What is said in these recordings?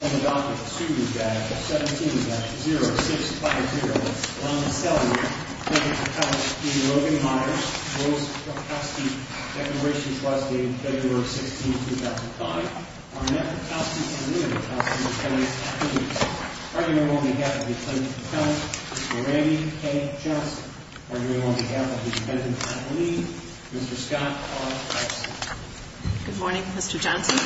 on the docket to 17-0650 on the salary of Logan Myers. Declarations was dated February 16, 2005. Are you on behalf of the plaintiff? Randy? Hey, just are you on behalf of the defendant? Good morning, Mr Johnson.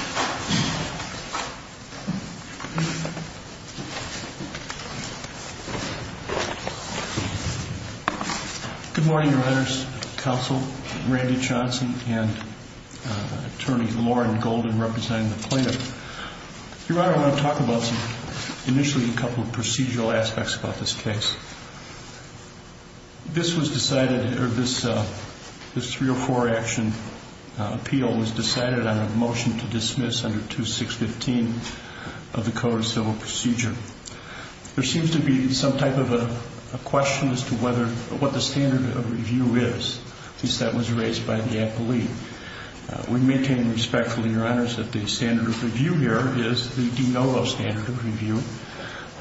Good morning, your honor's counsel, Randy Johnson and attorney Lauren Golden representing the plaintiff. Your honor, I want to talk about some, initially a couple of procedural aspects about this case. This was decided, or this, this 304 action appeal was decided on a motion to dismiss under 2615 of the code of civil procedure. There seems to be some type of a question as to whether, what the standard of review is, since that was raised by the appellee. We maintain respectfully, your honors, that the standard of review here is the de novo standard of review.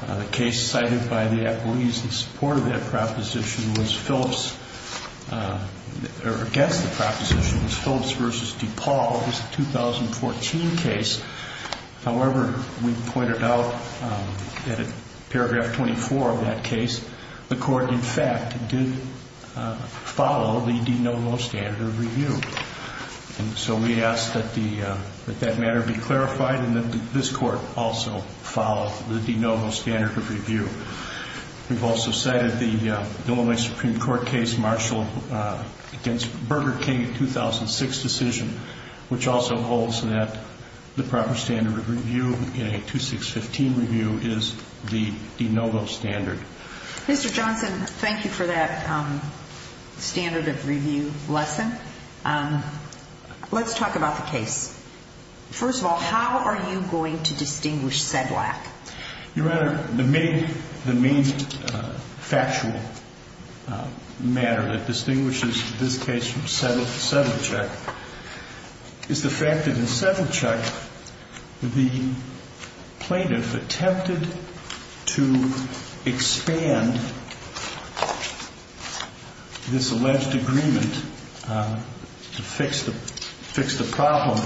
The case cited by the appellees in support of that proposition was Phillips or against the proposition was Phillips versus DePaul. It was a 2014 case. However, we pointed out in paragraph 24 of that case, the court, in fact, did follow the de novo standard of review. And so we ask that the, that matter be clarified and that this court also follow the de novo standard of review. We've also cited the Illinois Supreme Court case, Marshall against Burger King, 2006 decision, which also holds that the proper standard of review in a 2615 review is the de novo standard. Mr. Johnson, thank you for that standard of review lesson. Let's talk about the case. First of all, how are you going to distinguish said lack? Your honor, the main, the main factual matter that distinguishes this case from Settle Chuck is the fact that in Settle Chuck, the plaintiff attempted to expand this alleged agreement to fix the, fix the problem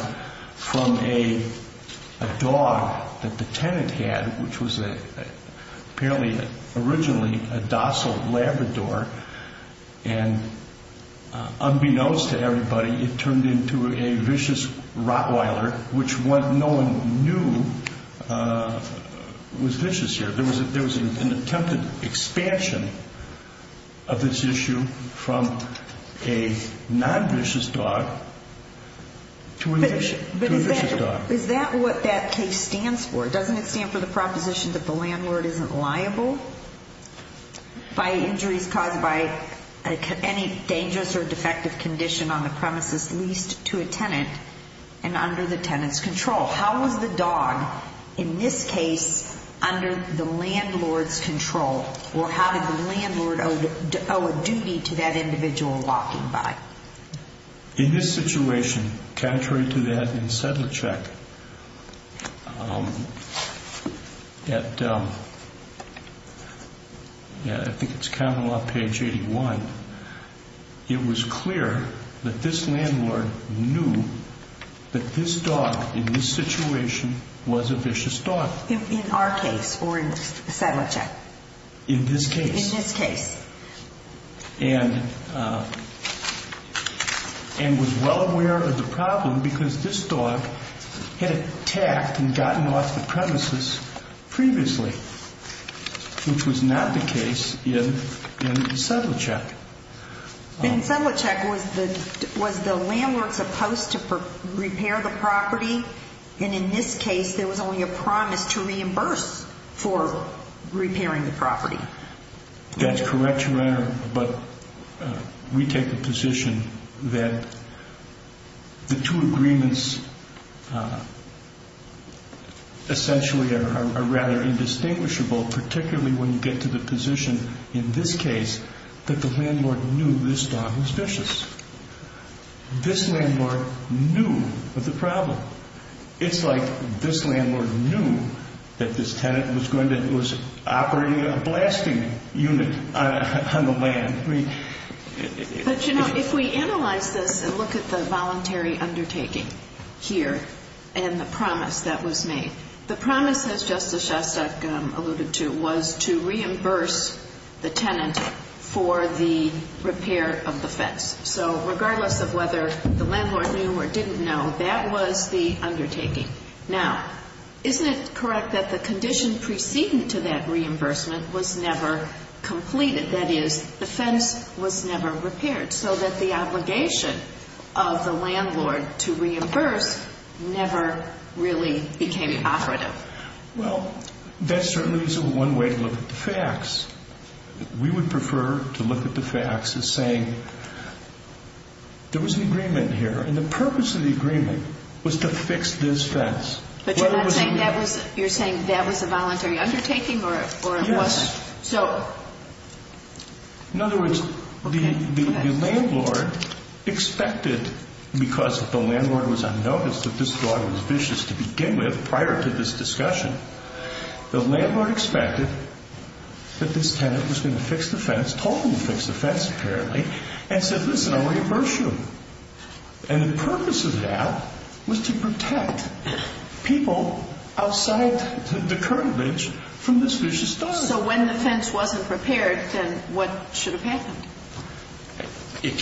from a dog that the tenant had, which was apparently originally a docile Labrador. And unbeknownst to everybody, it turned into a vicious Rottweiler, which what no one knew was vicious here. There was a, there was an attempted expansion of this issue from a non-vicious dog to a vicious dog. Is that what that case stands for? Doesn't it stand for the proposition that the landlord isn't liable by injuries caused by any dangerous or defective condition on the premises, leased to a tenant and under the tenant's control? How was the dog in this case under the landlord's control or how did the landlord owe a duty to that individual walking by? In this situation, contrary to that in Settle Chuck, at, yeah, I think it's counting off page 81, it was clear that this landlord knew that this dog in this situation was a vicious dog. In our case or in Settle Chuck? In this case. In this case. And, and was well aware of the problem because this dog had attacked and gotten off the premises previously, which was not the case in Settle Chuck. In Settle Chuck was the, was the landlord supposed to repair the property? And in this case, there was only a promise to reimburse for repairing the property. That's correct, Your Honor. But we take the position that the two agreements essentially are rather indistinguishable, particularly when you get to the position in this case that the landlord knew this dog was vicious. This landlord knew of the problem. It's like this landlord knew that this tenant was going to, was operating a blasting unit on the land. But you know, if we analyze this and look at the voluntary undertaking here and the promise that was made, the promise has Justice Shostak alluded to was to reimburse the tenant for the repair of the fence. So regardless of whether the landlord knew or didn't know, that was the undertaking. Now, isn't it correct that the condition preceding to that reimbursement was never completed? That is the fence was never repaired so that the obligation of the landlord to reimburse never really became operative. Well, that certainly isn't one way to look at the facts. We would prefer to look at the facts as saying there was an agreement here and the purpose of the agreement was to fix this fence. But you're not saying that was, you're saying that was a voluntary undertaking or it wasn't? So in other words, the landlord expected because the landlord was on notice that this dog was vicious to begin with prior to this discussion, the landlord expected that this tenant was going to fix the fence, told him to fix the fence apparently and said, listen, I'll reimburse you. And the purpose of that was to protect people outside the current bench from this vicious dog. So when the fence wasn't repaired, then what should have happened?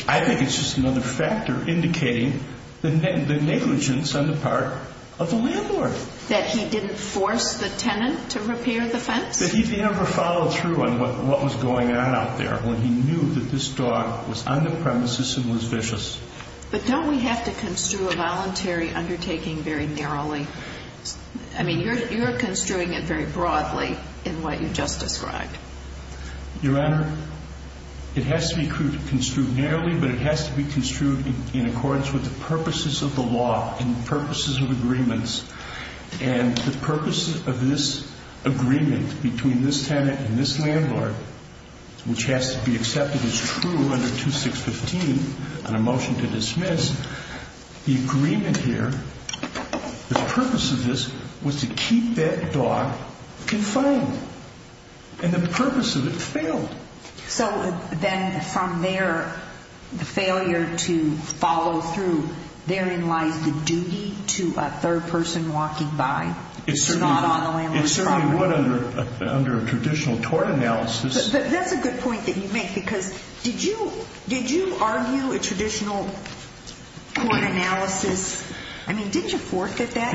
I think it's just another factor indicating the negligence on the part of the landlord. That he didn't force the tenant to repair the fence? That he never followed through on what was going on out there when he knew that this dog was on the premises and was vicious. But don't we have to construe a voluntary undertaking very narrowly? I mean, you're, you're construing it very broadly in what you just described. Your Honor, it has to be construed narrowly, but it has to be construed in accordance with the purposes of the law and purposes of agreements. And the purpose of this agreement between this tenant and this landlord, which has to be accepted as true under 2615 on a motion to dismiss, the agreement here, the purpose of this was to keep that dog confined. And the purpose of it failed. So then from there, the failure to follow through, therein lies the duty to a third person walking by. It's not on the landlord's property. It certainly would under a traditional tort analysis. That's a good point that you make, because did you, did you argue a traditional court analysis? I mean, did you fork at that?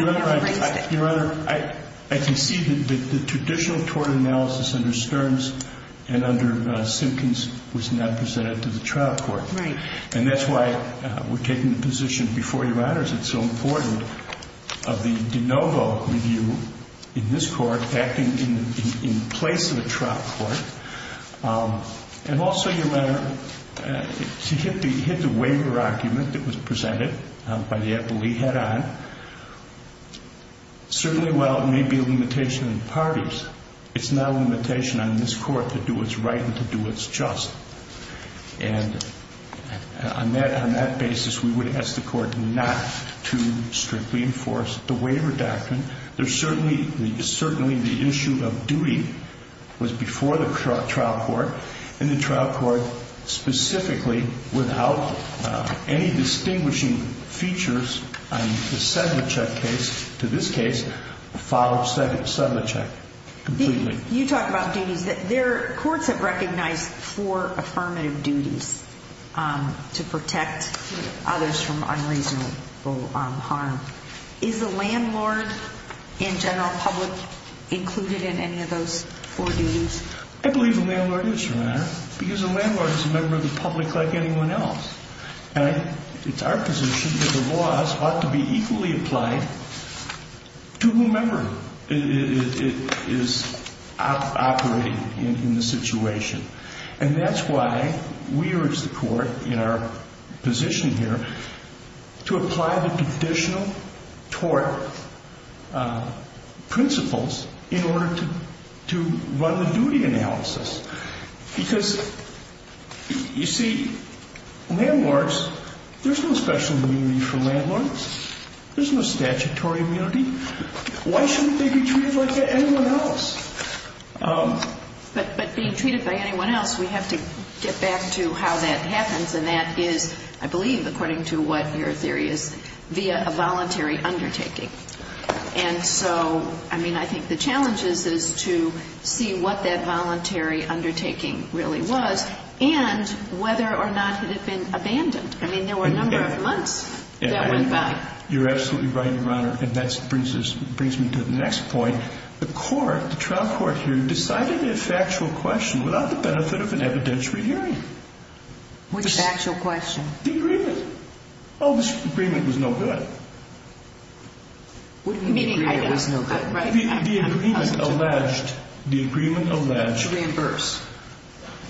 Your Honor, I concede that the traditional tort analysis under Stearns and under Simpkins was not presented to the trial court. Right. And that's why we're taking the position before you, Your Honors, it's so important of the de novo review in this court acting in place of the trial court. And also, Your Honor, to hit the, hit the waiver argument that was presented by the Appellee head on. Certainly while it may be a limitation in parties, it's not a limitation on this court to do what's right and to do what's just. And on that, on that basis, we would ask the court not to strictly enforce the waiver doctrine. There's certainly, certainly the issue of duty was before the trial court and the trial court specifically without any distinguishing features on the Sedlicek case, to this case, followed Sedlicek completely. You talk about duties that there are courts have recognized for affirmative duties to protect others from unreasonable harm. Is the landlord and general public included in any of those four duties? I believe the landlord is, Your Honor, because the landlord is a member of the public like anyone else. And it's our position that the laws ought to be equally applied to whomever is operating in the situation. And that's why we urge the court in our position here to apply the additional tort principles in order to run the duty analysis. Because you see, landlords, there's no special immunity for landlords. There's no statutory immunity. Why shouldn't they be treated like anyone else? But being treated by anyone else, we have to get back to how that happens. And that is, I believe, according to what your theory is, via a voluntary undertaking. And so, I mean, I think the challenge is to see what that voluntary undertaking really was and whether or not it had been abandoned. I mean, there were a number of months that went by. You're absolutely right, Your Honor. And that brings me to the next point. The court, the trial court here, decided a factual question without the benefit of an evidentiary hearing. What's the actual question? The agreement. Oh, this agreement was no good. What do you mean it was no good? The agreement alleged, the agreement alleged. To reimburse.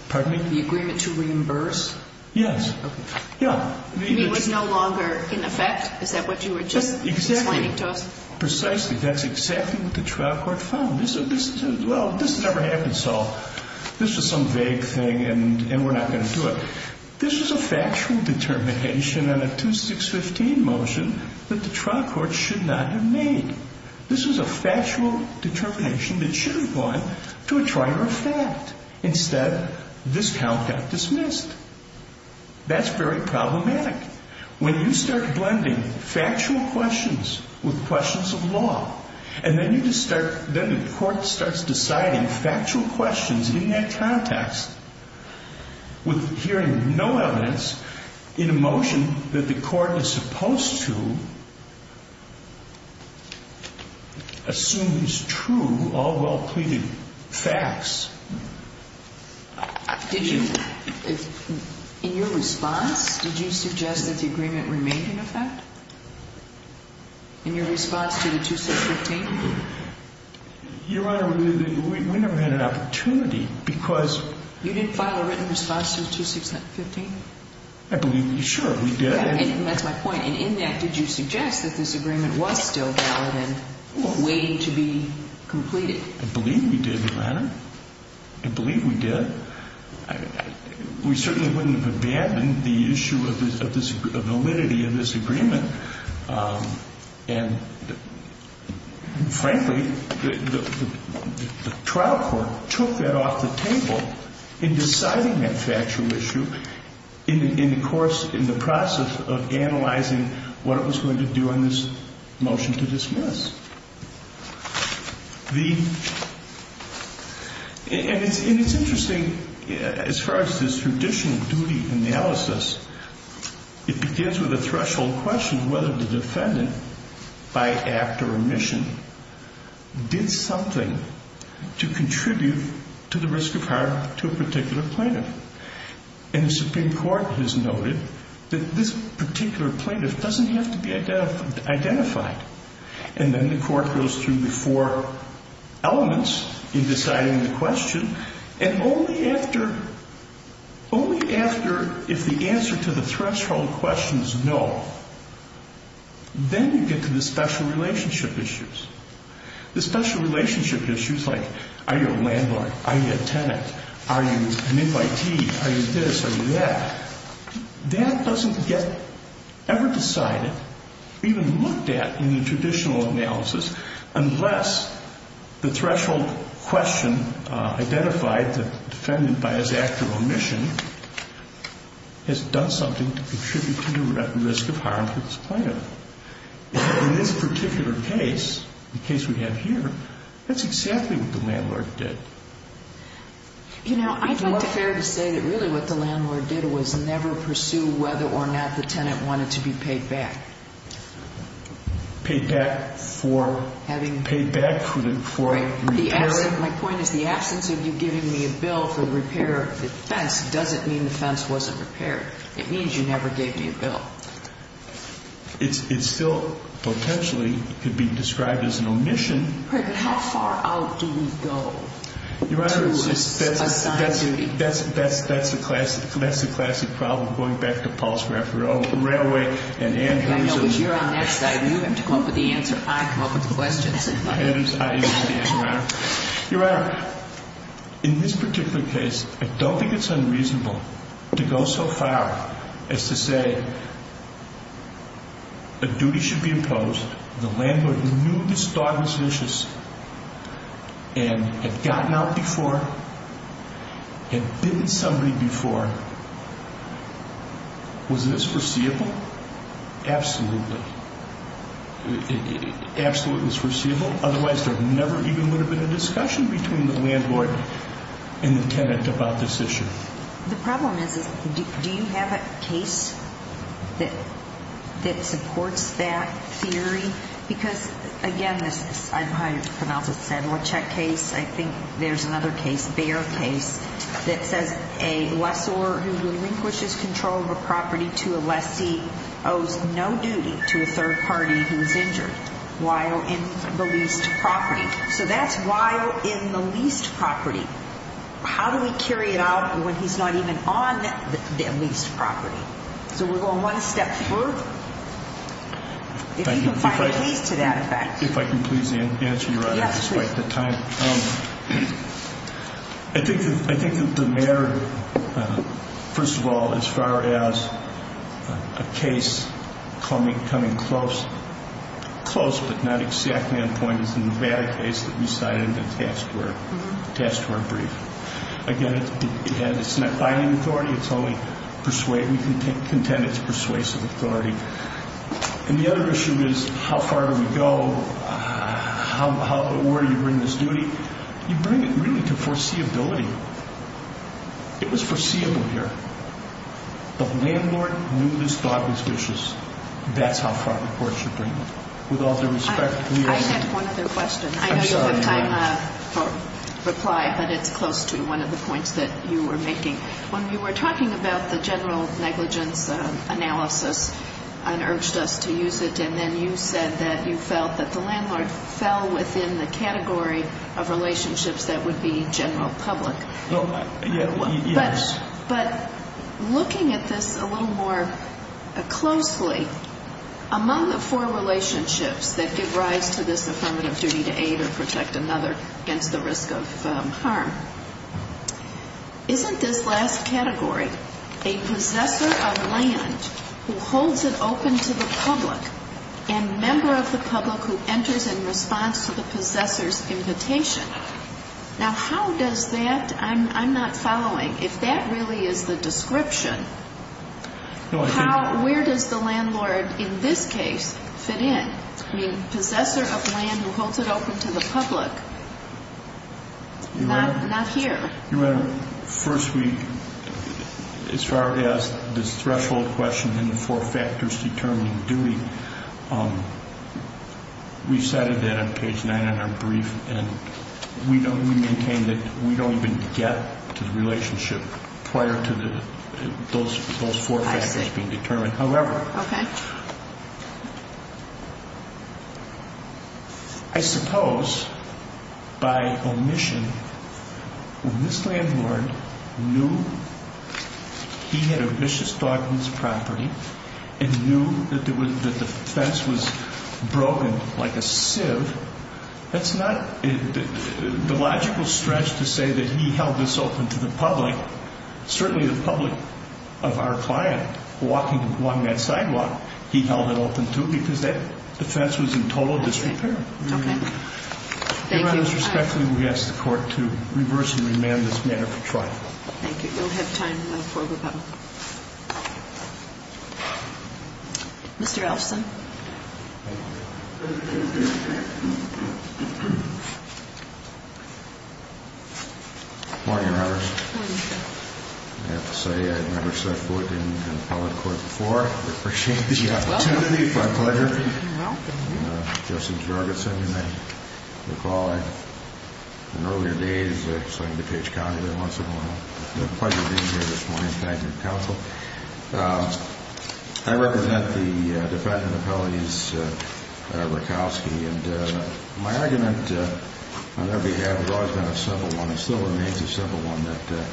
Pardon me? The agreement to reimburse? Yes. Okay. Yeah. You mean it was no longer in effect? Is that what you were just explaining to us? Precisely. That's exactly what the trial court found. This is, well, this never happened. So this is some vague thing and we're not going to do it. This is a factual determination on a 2615 motion that the trial court should not have made. This is a factual determination that should have gone to a trial for a fact. Instead, this count got dismissed. That's very problematic. When you start blending factual questions with questions of law, and then you just start, then the court starts deciding factual questions in that context with hearing no evidence in a motion that the court is supposed to assume is true, all well pleaded facts. Did you, in your response, did you suggest that the agreement remained in effect? In your response to the 2615? Your Honor, we never had an opportunity because... You didn't file a written response to the 2615? I believe, sure, we did. And that's my point. And in that, did you suggest that this agreement was still valid and waiting to be completed? I believe we did, Your Honor. I believe we did. We certainly wouldn't have abandoned the issue of validity of this agreement. And frankly, the trial court took that off the table in deciding that factual issue in the course, in the process of analyzing what it was going to do on this motion to dismiss. And it's interesting, as far as this traditional duty analysis, it begins with a threshold question. Whether the defendant, by act or omission, did something to contribute to the risk of harm to a particular plaintiff. And the Supreme Court has noted that this particular plaintiff doesn't have to be identified. And then the court goes through the four elements in deciding the question. And only after, only after, if the answer to the threshold question is no, then you get to the special relationship issues. The special relationship issues like, are you a landlord, are you a tenant, are you an invitee, are you this, are you that, that doesn't get ever decided, even looked at in the traditional analysis, unless the threshold question identified, the defendant by his act or omission, has done something to contribute to the risk of harm to this plaintiff. In this particular case, the case we have here, that's exactly what the landlord did. You know, I think it's fair to say that really what the landlord did was never pursue whether or not the tenant wanted to be paid back. Paid back for having, paid back for repairing. My point is, the absence of you giving me a bill for the repair of the fence doesn't mean the fence wasn't repaired. It means you never gave me a bill. It still potentially could be described as an omission. But how far out do we go to assign duty? Your Honor, that's, that's, that's the classic, that's the classic problem going back to Paul's Railway and Andrew's. I know, but you're on that side. You have to come up with the answer, I come up with the questions. Andrew's, I use the answer, Your Honor. Your Honor, in this particular case, I don't think it's unreasonable to go so far as to say a duty should be imposed. The landlord knew this dog was vicious and had gotten out before, had bitten somebody before. Was this foreseeable? Absolutely. Absolutely foreseeable. Otherwise, there never even would have been a discussion between the landlord and the tenant about this issue. The problem is, is, do you have a case that, that supports that theory? Because, again, this is, I, I pronounce it Sadler Check case. I think there's another case, Bayer case, that says a lessor who relinquishes control of a property to a lessee owes no duty to a third party who is injured while in the leased property. So that's while in the leased property. How do we carry it out when he's not even on the leased property? So we're going one step further. If you can find a case to that effect. If I can please answer, Your Honor, despite the time. I think, I think that the mayor, first of all, as far as a case coming, coming close, close but not exactly on point is the Nevada case that we cited in the task force, task force brief. Again, it's not binding authority. It's only persuading, contend it's persuasive authority. And the other issue is how far do we go? How, how, where do you bring this duty? You bring it really to foreseeability. It was foreseeable here. The landlord knew this dog was vicious. That's how far the court should bring it. With all due respect, we all... I had one other question. I'm sorry, Your Honor. I know you have time for reply, but it's close to one of the points that you were making. When you were talking about the general negligence analysis and urged us to use it, and then you said that you felt that the landlord fell within the category of relationships that would be general public. No, I... Yes. But, but looking at this a little more closely, among the four relationships that give rise to this affirmative duty to aid or protect another against the risk of harm, isn't this last category a possessor of land who holds it open to the public and member of the public who enters in response to the possessor's invitation? Now, how does that, I'm, I'm not following. If that really is the description, how, where does the landlord in this case fit in? I mean, possessor of land who holds it open to the public. Not, not here. Your Honor, first we, as far as this threshold question and the four factors determining duty, we cited that on page nine in our brief, and we don't, we maintain that we don't even get to the relationship prior to the, those, those four factors being determined. I see. However... Okay. I suppose, by omission, when this landlord knew he had a vicious dog on his property and knew that there was, that the fence was broken like a sieve, that's not the logical stretch to say that he held this open to the public, certainly the public of our client walking along that sidewalk. He held it open to, because that fence was in total disrepair. Okay. Thank you. Your Honor, respectfully, we ask the court to reverse and remand this matter for trial. Thank you. We don't have time for a rebuttal. Mr. Elson. Good morning, Your Honor. Good morning, sir. I have to say, I've never set foot in an appellate court before. I appreciate the opportunity. It's my pleasure. You're welcome. I'm Justin Jorgensen, and I recall in earlier days, I served in DuPage County there once in a while. It's a pleasure being here this morning. Thank you, counsel. I represent the defendant appellees, Rickowski, and my argument on their behalf has always been a simple one. It still remains a simple one.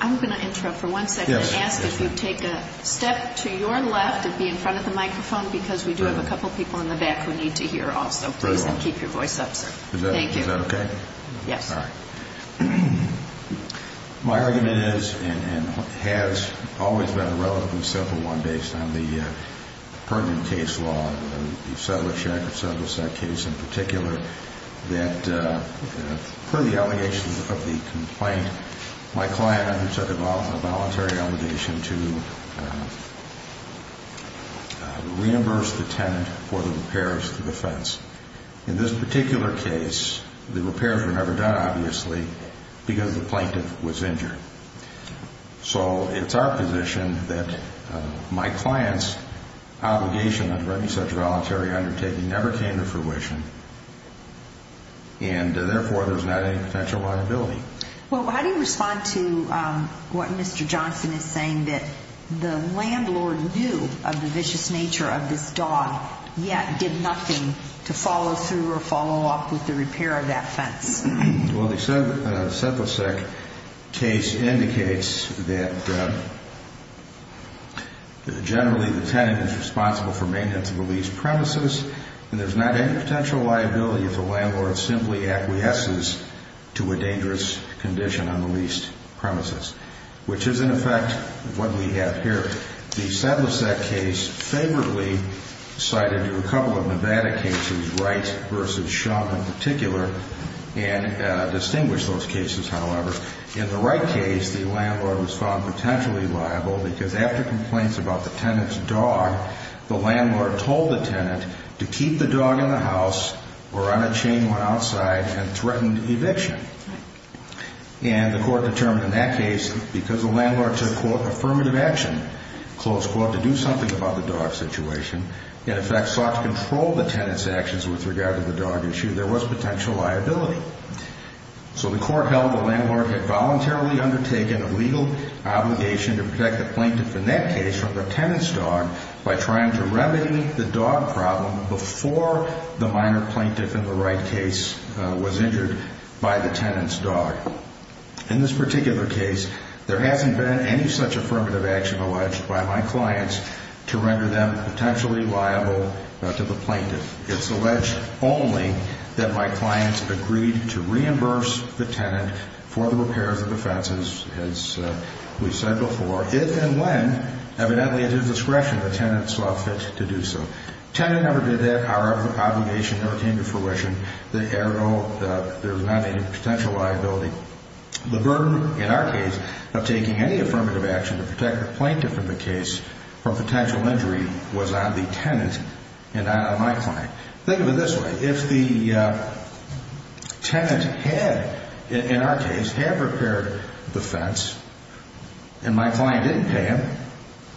I'm going to interrupt for one second and ask if you'd take a step to your left and be in front of the microphone because we do have a couple people in the back we need to hear also. Please keep your voice up, sir. Thank you. Is that okay? Yes. All right. My argument is and has always been a relatively simple one based on the pertinent case law, the Saddler-Shack or Saddler-Sack case in particular, that per the allegations of the complaint, my client undertook a voluntary obligation to reimburse the tenant for the repairs to the fence. In this particular case, the repairs were never done, obviously, because the plaintiff was injured. So it's our position that my client's obligation under any such voluntary undertaking never came to fruition and, therefore, there's not any potential liability. Well, how do you respond to what Mr. Johnson is saying, that the landlord knew of the vicious nature of this dog yet did nothing to follow through or follow up with the repair of that fence? Well, the Saddler-Sack case indicates that generally the tenant is on the least premises and there's not any potential liability if the landlord simply acquiesces to a dangerous condition on the least premises, which is, in effect, what we have here. The Saddler-Sack case favorably cited a couple of Nevada cases, Wright v. Shum in particular, and distinguished those cases, however. In the Wright case, the landlord was found potentially liable because after complaints about the tenant's dog, the landlord told the tenant to keep the dog in the house or on a chain when outside and threatened eviction. And the court determined in that case, because the landlord took, quote, affirmative action, close quote, to do something about the dog situation, in effect sought to control the tenant's actions with regard to the dog issue, there was potential liability. So the court held the landlord had voluntarily undertaken a legal obligation to protect the plaintiff in that case from the tenant's dog by trying to remedy the dog problem before the minor plaintiff in the Wright case was injured by the tenant's dog. In this particular case, there hasn't been any such affirmative action alleged by my clients to render them potentially liable to the plaintiff. It's alleged only that my clients agreed to reimburse the tenant for the repairs and defenses, as we said before, if and when, evidently at his discretion, the tenant saw fit to do so. Tenant never did that. Our obligation never came to fruition. There's not any potential liability. The burden in our case of taking any affirmative action to protect the plaintiff in the case from potential injury was on the tenant and not on my client. Think of it this way. If the tenant had, in our case, had repaired the fence and my client didn't pay him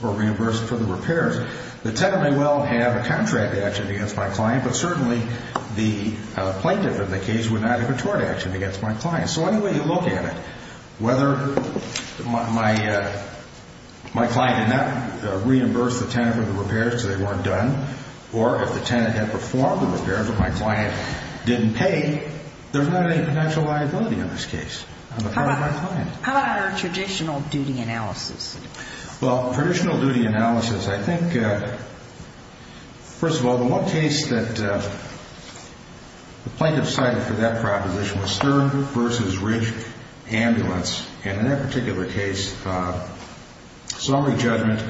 or reimbursed for the repairs, the tenant may well have a contract action against my client, but certainly the plaintiff in the case would not have a tort action against my client. So any way you look at it, whether my client did not reimburse the tenant for the repairs because they weren't done, or if the tenant had performed the repairs but my client didn't pay, there's not any potential liability in this case on the part of my client. How about our traditional duty analysis? Traditional duty analysis, I think, first of all, the one case that the plaintiff cited for that proposition was Stern v. Ridge Ambulance. In that particular case, summary judgment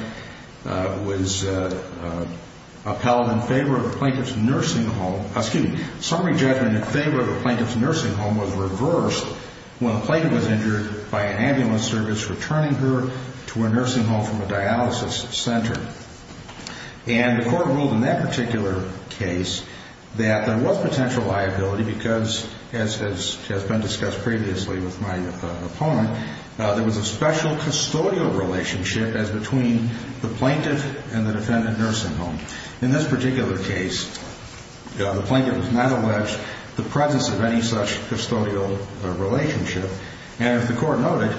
was upheld in favor of the plaintiff's nursing home, excuse me, summary judgment in favor of the plaintiff's nursing home was reversed when the plaintiff was injured by an ambulance service returning her to her nursing home from a dialysis center. And the court ruled in that particular case that there was potential liability because, as has been discussed previously with my opponent, there was a special custodial relationship as between the plaintiff and the defendant nursing home. In this particular case, the plaintiff was not alleged the presence of any such custodial relationship. And as the court noted,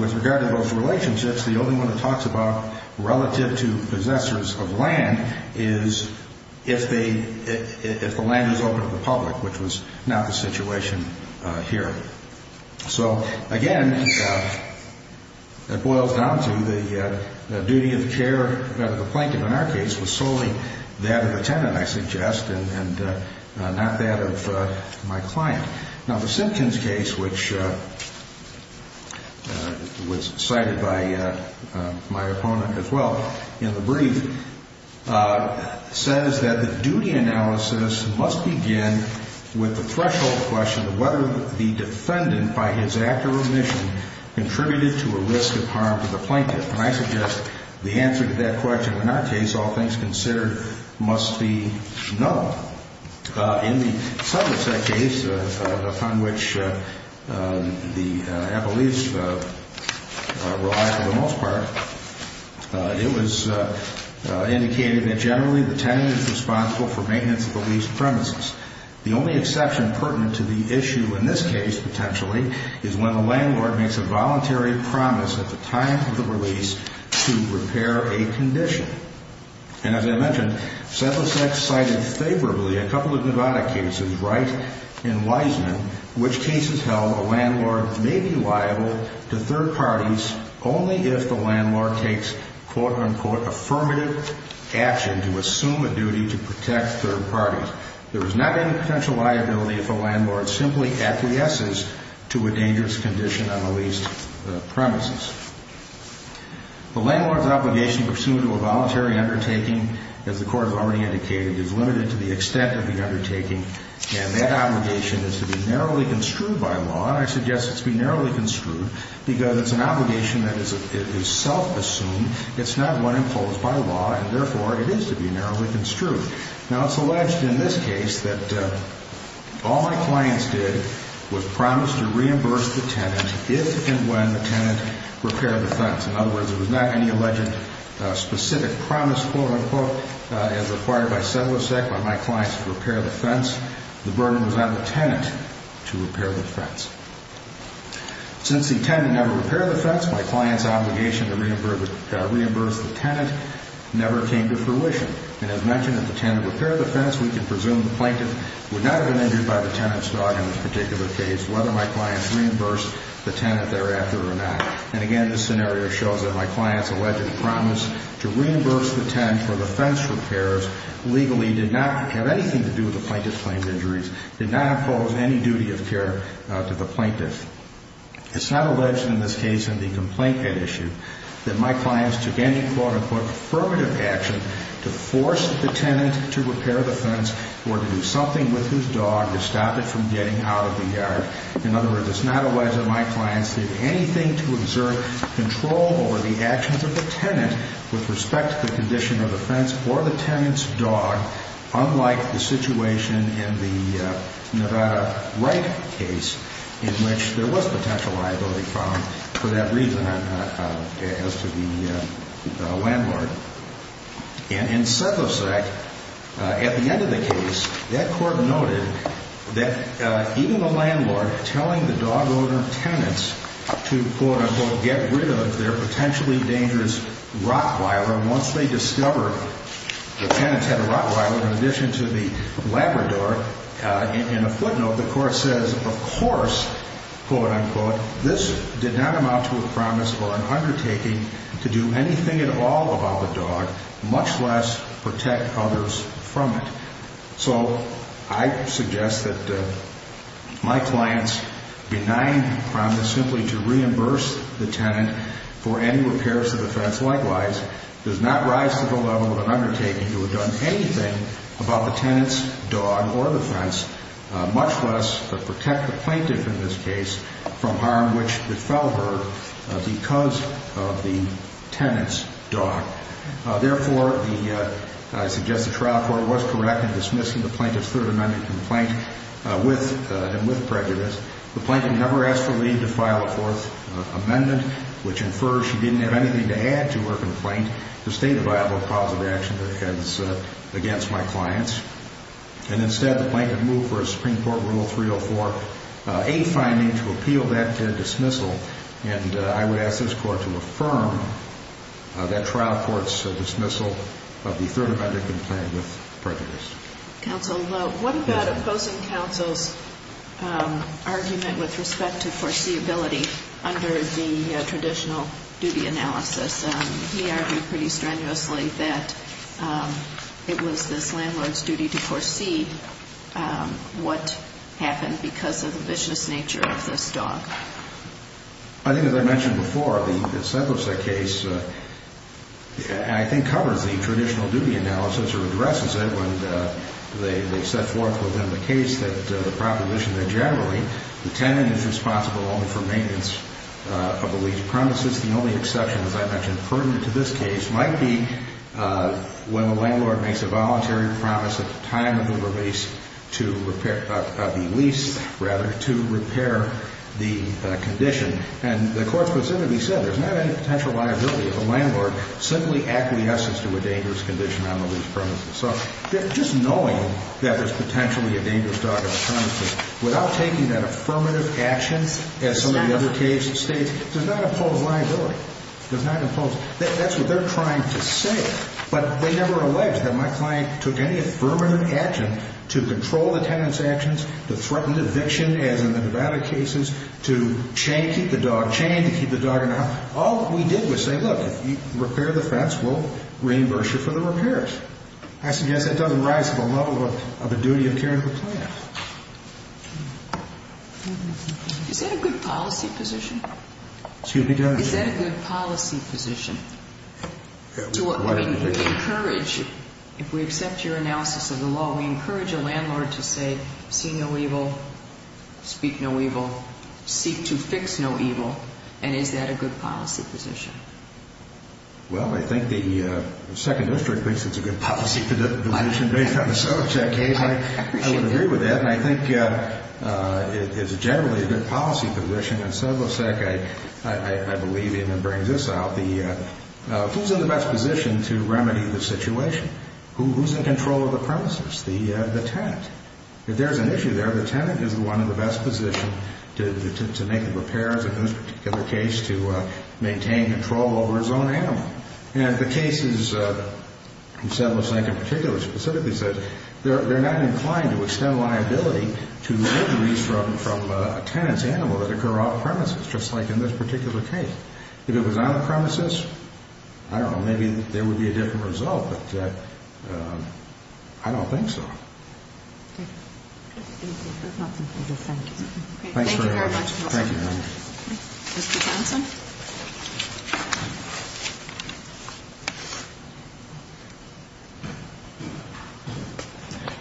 with regard to those relationships, the only one it talks about relative to possessors of land is if the land was open to the public, which was not the situation here. So, again, it boils down to the duty of care of the plaintiff in our case was solely that of the tenant, I suggest, and not that of my client. Now, the Simpkins case, which was cited by my opponent as well in the brief, says that the duty analysis must begin with the threshold question of whether the defendant by his act or omission contributed to a risk of harm to the plaintiff. And I suggest the answer to that question in our case, all things considered, must be no. In the Simpkins case, upon which the appellees relied for the most part, it was indicated that generally the tenant is responsible for maintenance of the lease premises. The only exception pertinent to the Simpkins case, potentially, is when the landlord makes a voluntary promise at the time of the release to repair a condition. And as I mentioned, Sedlicek cited favorably a couple of Nevada cases, Wright and Wiseman, in which cases held a landlord may be liable to third parties only if the landlord takes, quote-unquote, affirmative action to assume a duty to protect third parties. There is not any potential liability if a landlord simply acquiesces to a dangerous condition on the leased premises. The landlord's obligation pursuant to a voluntary undertaking, as the Court has already indicated, is limited to the extent of the undertaking. And that obligation is to be narrowly construed by law. And I suggest it's be narrowly construed because it's an obligation that is self-assumed. It's not one imposed by law. And therefore, it is to be narrowly construed. Now, it's alleged in this case that all my clients did was promise to reimburse the tenant if and when the tenant repaired the fence. In other words, there was not any alleged specific promise, quote-unquote, as required by Sedlicek by my clients to repair the fence. The burden was on the tenant to repair the fence. Since the tenant never repaired the fence, my client's obligation to reimburse the tenant never came to fruition. And as mentioned, if the tenant repaired the fence, we can presume the plaintiff would not have been injured by the tenant's dog in this particular case, whether my client reimbursed the tenant thereafter or not. And again, this scenario shows that my client's alleged promise to reimburse the tenant for the fence repairs legally did not have anything to do with the plaintiff's claims injuries, did not impose any duty of care to the plaintiff. It's not alleged in this case in the complaint issue that my clients took any, quote-unquote, affirmative action to force the tenant to repair the fence or to do something with his dog to stop it from getting out of the yard. In other words, it's not alleged that my clients did anything to exert control over the actions of the tenant with respect to the condition of the fence or the tenant's dog, unlike the situation in the Nevada Wright case in which there was potential liability found for that reason as to the landlord. And in Sethlesack, at the end of the case, that court noted that even the landlord telling the dog owner tenants to, quote-unquote, get rid of their potentially dangerous rottweiler once they discover the tenant had a rottweiler in addition to the Labrador in a footnote, the court says, of course, quote-unquote, this did not amount to a promise or an undertaking to do anything at all about the dog, much less protect others from it. So I suggest that my clients' benign promise simply to reimburse the tenant for any repairs to the fence likewise does not rise to the level of an undertaking to have done anything about the tenant's dog or the fence, much less protect the plaintiff in this case from harm which befell her because of the tenant's dog. Therefore, I suggest the trial court was correct in dismissing the plaintiff's Third Amendment complaint with prejudice. The plaintiff never asked for leave to file a Fourth Amendment, which infers she didn't have anything to add to her complaint to state a viable cause of action against my clients. And instead, the plaintiff moved for a Supreme Court Rule 304A finding to appeal that dismissal, and I would ask this Court to affirm that trial court's dismissal of the Third Amendment complaint with prejudice. Counsel, what about opposing Counsel's argument with respect to foreseeability under the traditional duty analysis? He argued pretty strenuously that it was this landlord's duty to foresee what happened because of the vicious nature of this dog. I think as I mentioned before, the Sedlice case I think covers the traditional duty analysis or addresses it when they set forth within the case that the proposition that generally the tenant is responsible only for maintenance of the leased premises. The only exception as I mentioned pertinent to this case might be when the landlord makes a voluntary promise at the time of the release to repair the lease, rather, to repair the condition. And the Court specifically said there's not any potential liability if a landlord simply acquiesces to a dangerous condition on the leased premises. So just knowing that there's potentially a dangerous dog on the premises without taking that affirmative action, as some of the other cases state, does not impose liability. That's what they're trying to say. But they never allege that my client took any affirmative action to control the tenant's actions, to threaten eviction, as in the Nevada cases, to keep the dog chained, to keep the dog in a house. All that we did was say, look, if you repair the fence, we'll reimburse you for the repairs. I suggest that doesn't rise to the level of a duty of caring for clients. Is that a good policy position? Excuse me, Judge? Is that a good policy position? To encourage, if we accept your analysis of the law, we encourage a landlord to say, see no evil, speak no evil, seek to fix no evil. And is that a good policy position? Well, I think the 2nd District thinks it's a good policy position based on the Sobocek case. I would agree with that. And I think it's generally a good policy position. And Sobocek, I believe even brings this out. Who's in the best position to remedy the situation? Who's in control of the premises? The tenant. If there's an issue there, the tenant is the one in the best position to make the repairs, in this particular case, to maintain control over his own animal. And the cases, Sobocek in particular specifically says, they're not inclined to extend liability to injuries from a tenant's animal that occur off-premises, just like in this particular case. If it was on-premises, I don't know, maybe there would be a different result, but I don't think so. Thank you very much.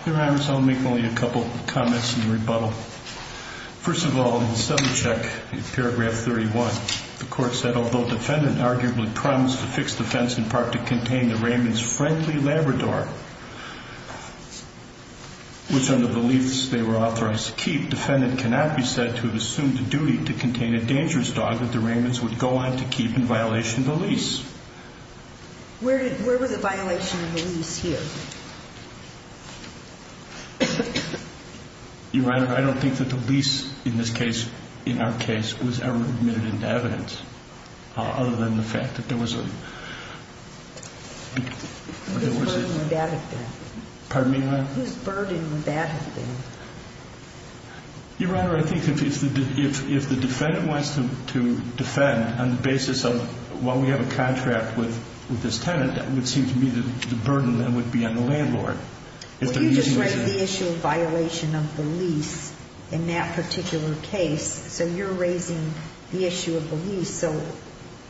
Your Honors, I'll make only a couple comments in rebuttal. First of all, in Sobocek, paragraph 31, the Court said, although the defendant arguably crimes to fix the fence in part to contain the Raymond's friendly Labrador, which under the beliefs they were authorized to keep, defendant cannot be said to have assumed the duty to contain a dangerous dog that the Raymonds would go on to keep in violation of the lease. Where were the violations of the lease here? Your Honor, I don't think that the lease in this case, in our case, was ever admitted into evidence, other than the fact that there was a Whose burden would that have been? Your Honor, I think if the defendant wants to defend on the basis of, well, we have a contract with this tenant, that would seem to be the burden that would be on the landlord. You just raised the issue of violation of the lease in that particular case, so you're raising the issue of the lease, so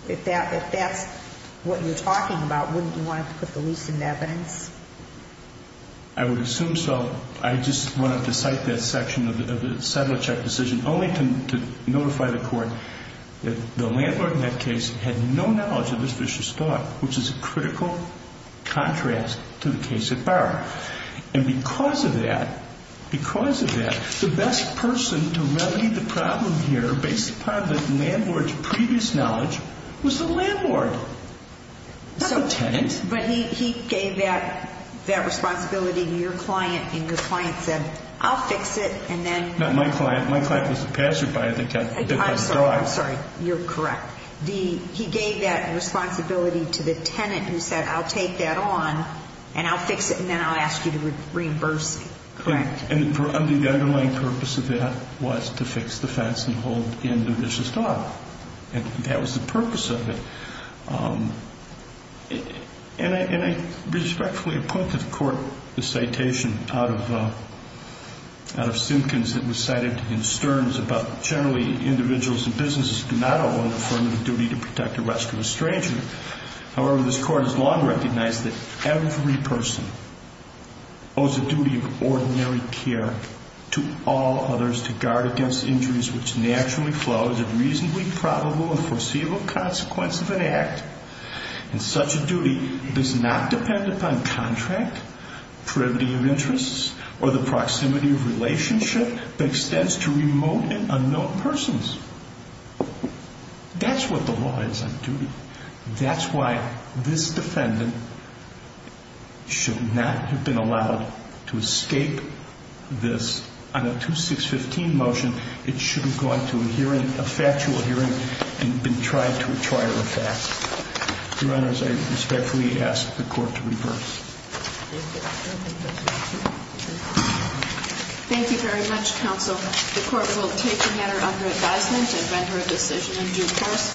if that's what you're talking about, wouldn't you want to put the lease into evidence? I would assume so. I just wanted to cite that section of the Sobocek decision, only to notify the Court that the landlord in that case had no knowledge of this vicious dog, which is a critical contrast to the case at Barra. And because of that, the best person to remedy the problem here, based upon the landlord's previous knowledge, was the landlord, not the tenant. But he gave that responsibility to your client, and your client said, I'll fix it, and then Not my client. My client was the passerby that got the dog. I'm sorry. You're correct. He gave that responsibility to the tenant who said, I'll take that on, and I'll fix it, and then I'll ask you to reimburse Correct. And the underlying purpose of that was to fix the fence and hold in the vicious dog. And that was the purpose of it. And I respectfully appoint to the Court the citation out of Simpkins that was cited in Stearns about generally individuals and businesses do not owe on the firm of the duty to protect or rescue a stranger. However, this Court has long recognized that every person owes a duty of ordinary care to all others to guard against injuries which naturally flow as a reasonably probable and foreseeable consequence of an act. And such a duty does not depend upon contract, privity of interests, or the proximity of relationship that extends to remote and unknown persons. That's what the law is on duty. That's why this defendant should not have been allowed to escape this. On a 2615 motion, it should have gone to a hearing, a factual hearing, and been tried to a trial of facts. Your Honors, I respectfully ask the Court to reverse. Thank you very much, Counsel. The Court will take the matter under advisement and render a decision in due course.